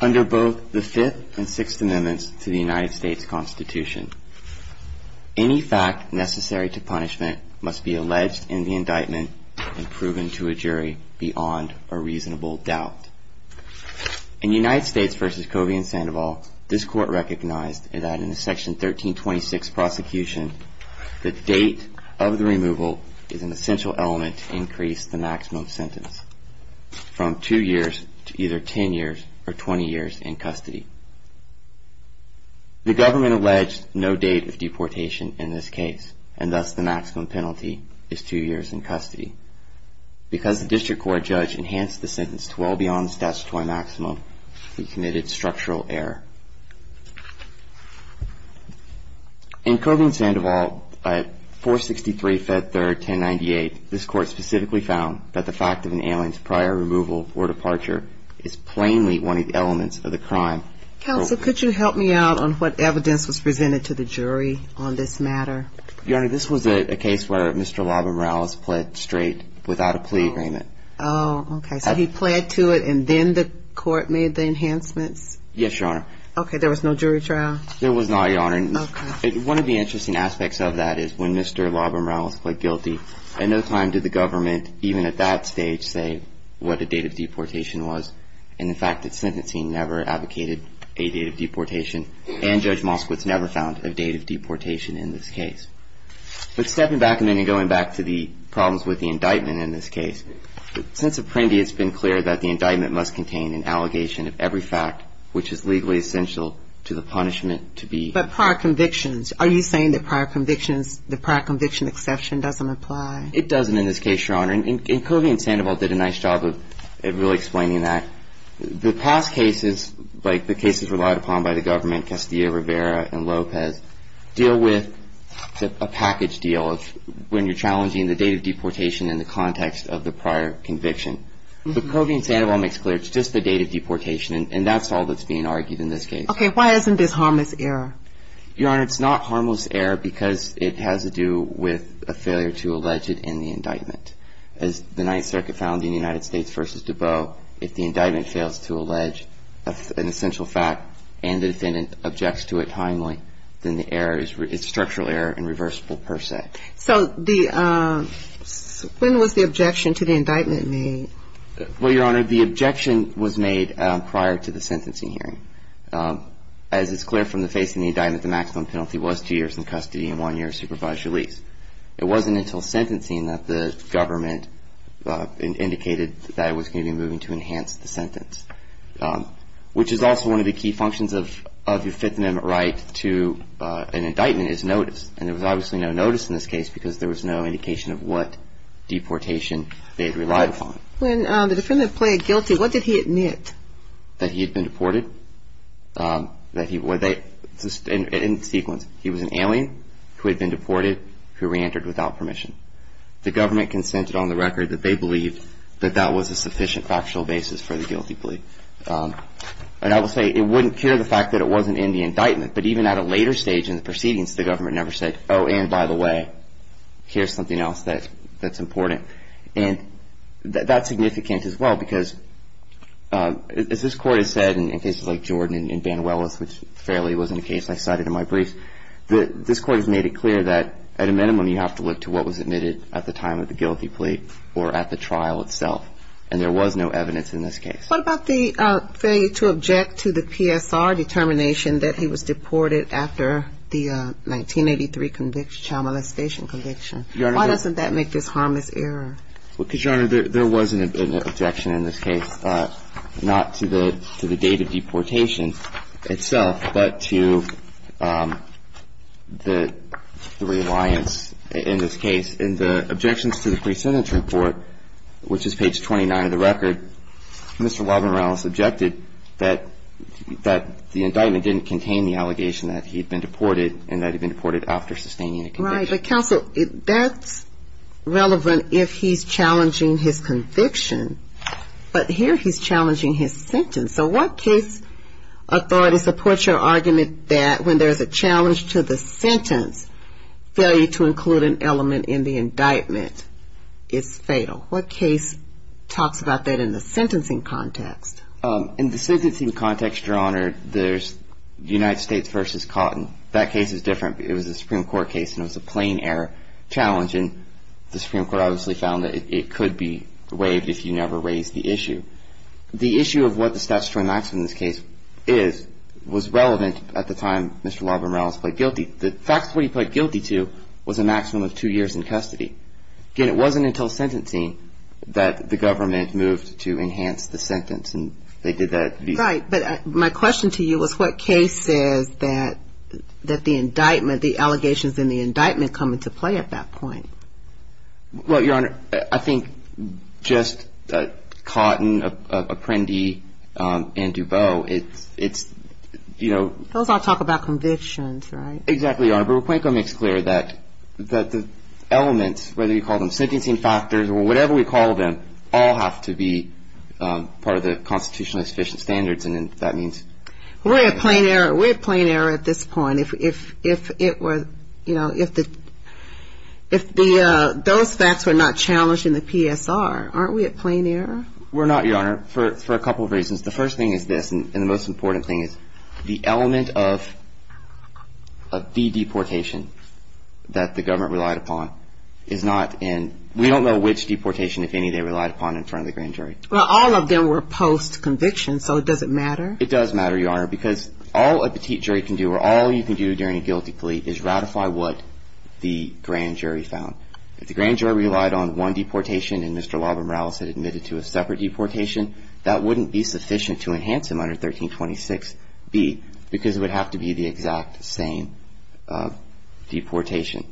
Under both the 5th and 6th Amendments to the United States Constitution, any fact necessary to punishment must be alleged in the indictment and proven to a jury beyond a reasonable doubt. In United States v. Covey v. Sandoval, this Court recognized that in the Section 1326 Prosecution, the date of the removal is an essential element to increase the maximum sentence from 2 years to either 10 years or 20 years in custody. The government alleged no date of deportation in this case, and thus the maximum penalty is 2 years in custody. Because the District Court judge enhanced the sentence to well beyond the statutory maximum, we committed structural error. In Covey v. Sandoval, 463 Fed 3rd 1098, this Court specifically found that the fact of an alien's prior removal or departure is plainly one of the elements of the crime. Counsel, could you help me out on what evidence was presented to the jury on this matter? Your Honor, this was a case where Mr. Labra-Morales pled straight without a plea agreement. Oh, okay. So he pled to it and then the Court made the enhancements? Yes, Your Honor. Okay. There was no jury trial? There was not, Your Honor. Okay. One of the interesting aspects of that is when Mr. Labra-Morales pled guilty, at no time did the government, even at that stage, say what the date of deportation was. And the fact that sentencing never advocated a date of deportation and Judge Moskowitz never found a date of deportation in this case. But stepping back a minute and going back to the problems with the indictment in this case, since Apprendi it's been clear that the indictment must contain an exception to that which is legally essential to the punishment to be. But prior convictions, are you saying that prior convictions, the prior conviction exception doesn't apply? It doesn't in this case, Your Honor. And Kovi and Sandoval did a nice job of really explaining that. The past cases, like the cases relied upon by the government, Castillo, Rivera, and Lopez, deal with a package deal of when you're challenging the date of deportation in the context of the prior conviction. But Kovi and Sandoval makes clear it's just the date of deportation, and that's all that's being argued in this case. Okay. Why isn't this harmless error? Your Honor, it's not harmless error because it has to do with a failure to allege it in the indictment. As the Ninth Circuit found in the United States v. DuBose, if the indictment fails to allege an essential fact and the defendant objects to it timely, then the error is structural error and reversible per se. So when was the objection to the indictment made? Well, Your Honor, the objection was made prior to the sentencing hearing. As is clear from the face of the indictment, the maximum penalty was two years in custody and one year of supervised release. It wasn't until sentencing that the government indicated that it was going to be moving to enhance the sentence, which is also one of the key functions of your Fifth Amendment right to an indictment is notice. And there was obviously no notice in this case because there was no indication of what deportation they had relied upon. When the defendant pled guilty, what did he admit? That he had been deported. In sequence, he was an alien who had been deported, who reentered without permission. The government consented on the record that they believed that that was a sufficient factual basis for the guilty plea. And I will say it wouldn't cure the fact that it wasn't in the indictment, but even at a later stage in the proceedings, the government never said, oh, and by the way, here's something else that's important. And that's significant as well because as this Court has said in cases like Jordan and Banuelos, which fairly wasn't a case I cited in my brief, this Court has made it clear that at a minimum, you have to look to what was admitted at the time of the guilty plea or at the trial itself. And there was no evidence in this case. What about the failure to object to the PSR determination that he was deported after the 1983 conviction, child molestation conviction? Why doesn't that make this harmless error? Because, Your Honor, there was an objection in this case, not to the date of deportation itself, but to the reliance in this case. In the objections to the pre-sentence report, which is page 29 of the record, Mr. Walden-Rallis objected that the indictment didn't contain the allegation that he had been deported and that he had been deported after sustaining a conviction. Right. But, counsel, that's relevant if he's challenging his conviction. But here he's challenging his sentence. So what case authority supports your argument that when there's a challenge to the sentence, failure to include an element in the indictment is fatal? What case talks about that in the sentencing context? In the sentencing context, Your Honor, there's United States v. Cotton. That case is different. It was a Supreme Court case, and it was a plain error challenge, and the Supreme Court obviously found that it could be waived if you never raised the issue. The issue of what the statutory maximum in this case is was relevant at the time Mr. Walden-Rallis pled guilty. The fact that he pled guilty to was a maximum of two years in custody. Again, it wasn't until sentencing that the government moved to enhance the sentence, and they did that. Right. But my question to you was what case says that the indictment, the allegations in the indictment come into play at that point? Well, Your Honor, I think just Cotton, Apprendi, and DuBose, it's, you know. Those all talk about convictions, right? Exactly, Your Honor. But Wacuenko makes clear that the elements, whether you call them sentencing factors or whatever we call them, all have to be part of the constitutionally sufficient standards, and that means. We're at plain error. We're at plain error at this point. If it were, you know, if those facts were not challenged in the PSR, aren't we at plain error? We're not, Your Honor, for a couple of reasons. The first thing is this, and the most important thing is the element of the deportation that the government relied upon is not in. We don't know which deportation, if any, they relied upon in front of the grand jury. Well, all of them were post-conviction, so does it matter? It does matter, Your Honor, because all a petite jury can do or all you can do during a guilty plea is ratify what the grand jury found. If the grand jury relied on one deportation and Mr. Labram-Rallis had admitted to a separate deportation, that wouldn't be sufficient to enhance him under 1326B because it would have to be the exact same deportation,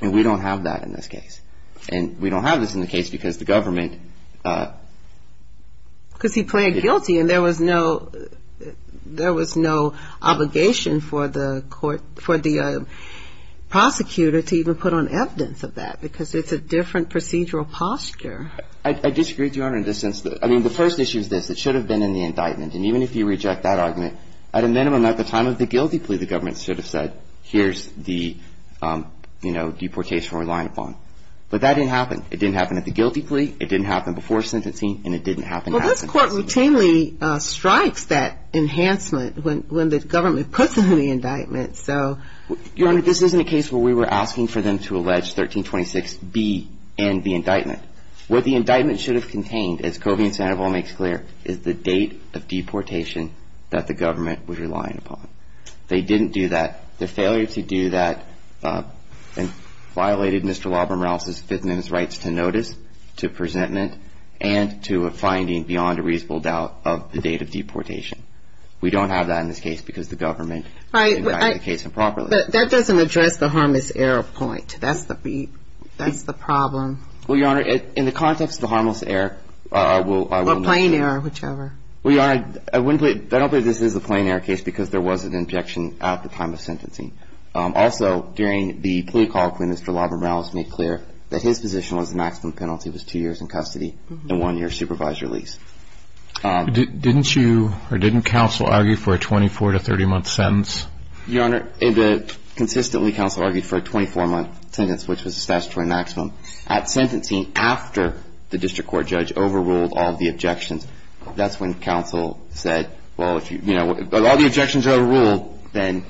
and we don't have that in this case, and we don't have this in the case because the government ---- And there was no obligation for the prosecutor to even put on evidence of that because it's a different procedural posture. I disagree, Your Honor, in the sense that ---- I mean, the first issue is this. It should have been in the indictment, and even if you reject that argument, at a minimum, at the time of the guilty plea, the government should have said, here's the deportation we're relying upon, but that didn't happen. It didn't happen at the guilty plea. It didn't happen before sentencing, and it didn't happen after sentencing. Well, this Court routinely strikes that enhancement when the government puts it in the indictment, so ---- Your Honor, this isn't a case where we were asking for them to allege 1326B and the indictment. What the indictment should have contained, as Covey and Sandoval make clear, is the date of deportation that the government was relying upon. They didn't do that. The failure to do that violated Mr. Labram-Rallis' fitness rights to notice, to presentment, and to a finding beyond a reasonable doubt of the date of deportation. We don't have that in this case because the government indicates improperly. But that doesn't address the harmless error point. That's the problem. Well, Your Honor, in the context of the harmless error, I will not ---- Or plain error, whichever. Well, Your Honor, I wouldn't put it ---- I don't believe this is a plain error case because there was an injection at the time of sentencing. Also, during the plea call between Mr. Labram-Rallis, Mr. Labram-Rallis made clear that his position was the maximum penalty was two years in custody and one year of supervised release. Didn't you or didn't counsel argue for a 24- to 30-month sentence? Your Honor, consistently counsel argued for a 24-month sentence, which was the statutory maximum. At sentencing, after the district court judge overruled all of the objections, that's when counsel said, well, if all the objections are overruled, then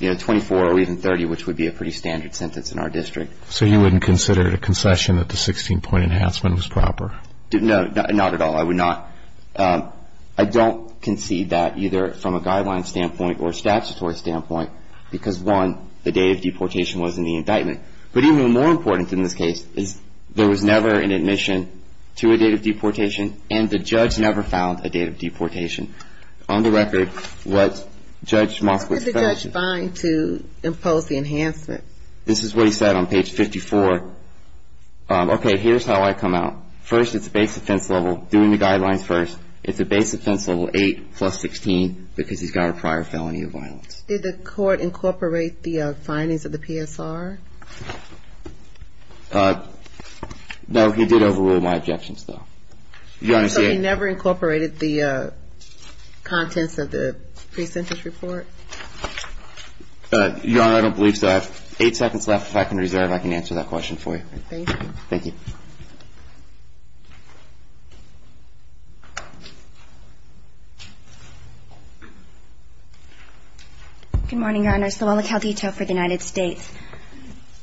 24 or even 30, which would be a pretty standard sentence in our district. So you wouldn't consider it a concession that the 16-point enhancement was proper? No, not at all. I would not. I don't concede that either from a guideline standpoint or a statutory standpoint because, one, the date of deportation wasn't the indictment. But even more important in this case is there was never an admission to a date of deportation and the judge never found a date of deportation. On the record, what Judge Moskowitz ---- What did the judge find to impose the enhancement? This is what he said on page 54. Okay, here's how I come out. First, it's a base offense level. Doing the guidelines first, it's a base offense level 8 plus 16 because he's got a prior felony of violence. Did the court incorporate the findings of the PSR? No, he did overrule my objections, though. So he never incorporated the contents of the pre-sentence report? Your Honor, I don't believe so. I have eight seconds left. If I can reserve, I can answer that question for you. Thank you. Thank you. Good morning, Your Honor. Solana Caldito for the United States.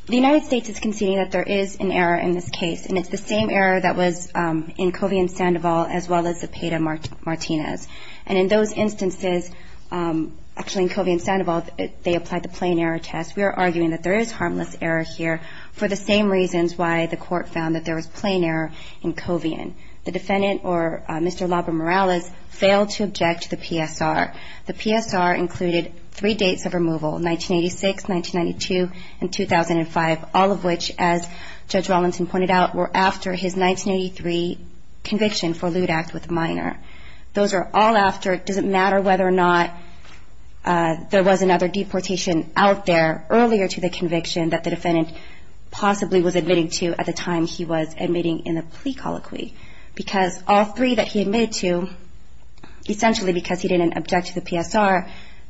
The United States is conceding that there is an error in this case, and it's the same error that was in Covian-Sandoval as well as the Peda-Martinez. And in those instances, actually in Covian-Sandoval, they applied the plain error test. We are arguing that there is harmless error here for the same reasons why the court found that there was plain error in Covian. The defendant, or Mr. Labramorales, failed to object to the PSR. The PSR included three dates of removal, 1986, 1992, and 2005, all of which, as Judge Rawlinson pointed out, were after his 1983 conviction for lewd act with a minor. Those are all after it doesn't matter whether or not there was another deportation out there earlier to the conviction that the defendant possibly was admitting to at the time he was admitting in the plea colloquy because all three that he admitted to, essentially because he didn't object to the PSR,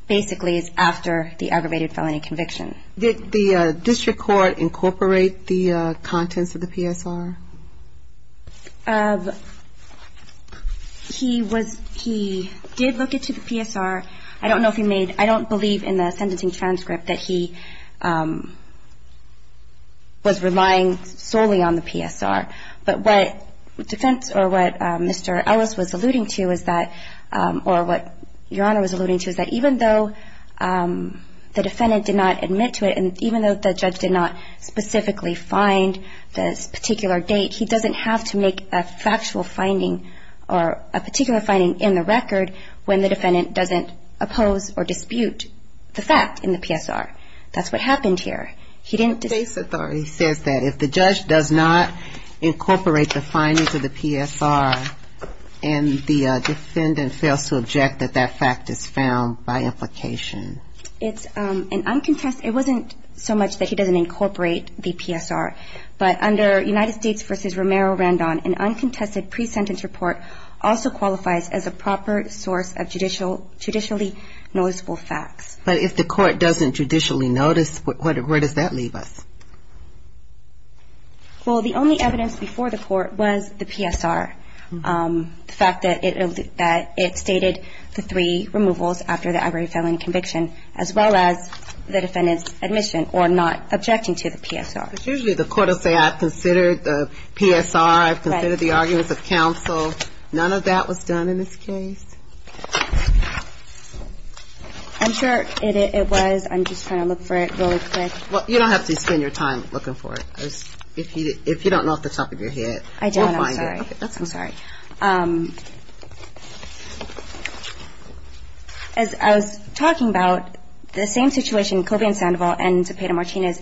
basically is after the aggravated felony conviction. Did the district court incorporate the contents of the PSR? He was he did look into the PSR. I don't know if he made I don't believe in the sentencing transcript that he was relying solely on the PSR. But what defense or what Mr. Ellis was alluding to is that or what Your Honor was alluding to is that even though the defendant did not admit to it and even though the judge did not specifically find this particular date, he doesn't have to make a factual finding or a particular finding in the record when the defendant doesn't oppose or dispute the fact in the PSR. That's what happened here. The case authority says that if the judge does not incorporate the findings of the PSR and the defendant fails to object that that fact is found by implication. It's an uncontested It wasn't so much that he doesn't incorporate the PSR, but under United States v. Romero-Randon, an uncontested pre-sentence report also qualifies as a proper source of judicially noticeable facts. But if the court doesn't judicially notice, where does that leave us? Well, the only evidence before the court was the PSR. The fact that it stated the three removals after the ivory felling conviction as well as the defendant's admission or not objecting to the PSR. Usually the court will say I've considered the PSR, I've considered the arguments of counsel. None of that was done in this case? I'm sure it was. I'm just trying to look for it really quick. Well, you don't have to spend your time looking for it. If you don't know off the top of your head, you'll find it. I'm sorry. As I was talking about, the same situation, Colby and Sandoval and Zepeda-Martinez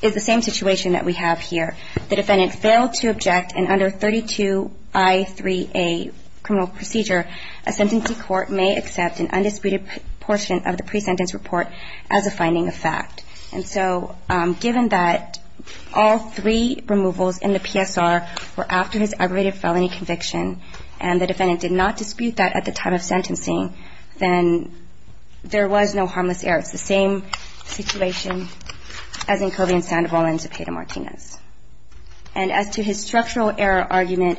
is the same situation that we have here. The defendant failed to object in under 32I3A criminal procedure. A sentencing court may accept an undisputed portion of the pre-sentence report as a finding of fact. And so given that all three removals in the PSR were after his ivory felony conviction and the defendant did not dispute that at the time of sentencing, then there was no harmless error. It's the same situation as in Colby and Sandoval and Zepeda-Martinez. And as to his structural error argument,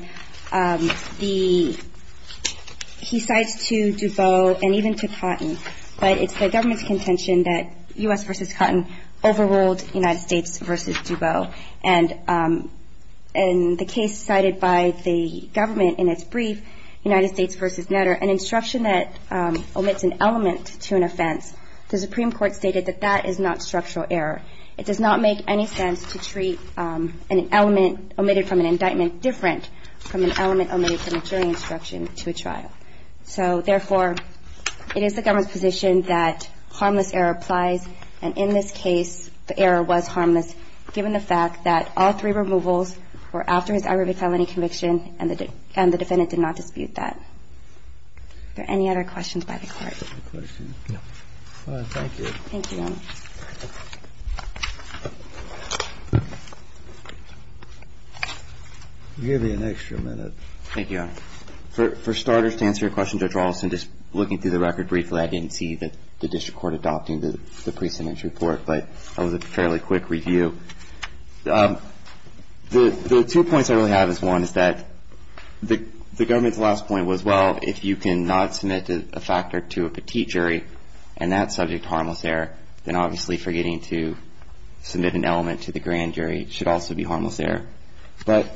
he cites to DuBose and even to Cotton, but it's the government's contention that U.S. v. Cotton overruled United States v. DuBose. And the case cited by the government in its brief, United States v. Nutter, an instruction that omits an element to an offense, the Supreme Court stated that that is not structural error. It does not make any sense to treat an element omitted from an indictment different from an element omitted from a jury instruction to a trial. So therefore, it is the government's position that harmless error applies. And in this case, the error was harmless given the fact that all three removals were after his ivory felony conviction and the defendant did not dispute that. Are there any other questions by the Court? Thank you. Thank you, Your Honor. Thank you, Your Honor. For starters, to answer your question, Judge Rawlinson, just looking through the record briefly, I didn't see the district court adopting the pre-sentence report, but that was a fairly quick review. The two points I really have is one is that the government's last point was, well, if you cannot submit a factor to a petite jury and that's subject to harmless error, then obviously forgetting to submit an element to the grand jury should also be harmless error. But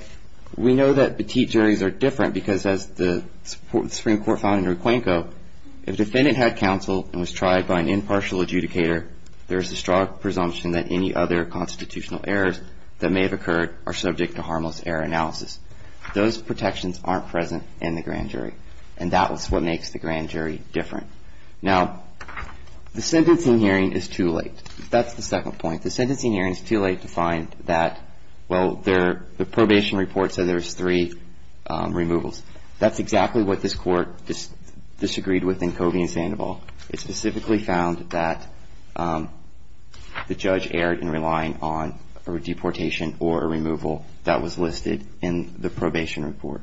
we know that petite juries are different because as the Supreme Court found in Requenco, if a defendant had counsel and was tried by an impartial adjudicator, there is a strong presumption that any other constitutional errors that may have occurred are subject to harmless error analysis. Those protections aren't present in the grand jury, and that was what makes the grand jury different. Now, the sentencing hearing is too late. That's the second point. The sentencing hearing is too late to find that, well, the probation report said there was three removals. That's exactly what this Court disagreed with in Covey and Sandoval. It specifically found that the judge erred in relying on a deportation or a removal that was listed in the probation report.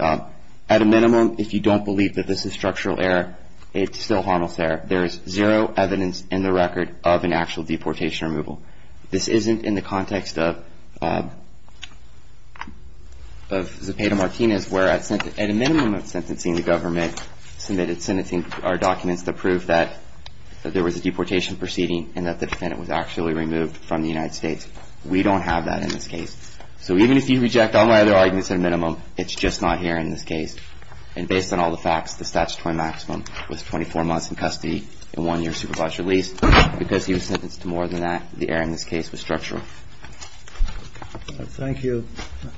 At a minimum, if you don't believe that this is structural error, it's still harmless error. There is zero evidence in the record of an actual deportation removal. This isn't in the context of Zepeda-Martinez, where at a minimum of sentencing the government submitted sentencing documents to prove that there was a deportation proceeding and that the defendant was actually removed from the United States. We don't have that in this case. So even if you reject all my other arguments at a minimum, it's just not here in this case. And based on all the facts, the statutory maximum was 24 months in custody and one year supervised release. Because he was sentenced to more than that, the error in this case was structural. Thank you.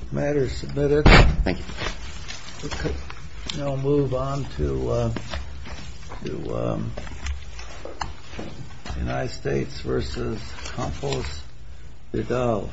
The matter is submitted. Thank you. We'll move on to the United States versus Campos-Riddle.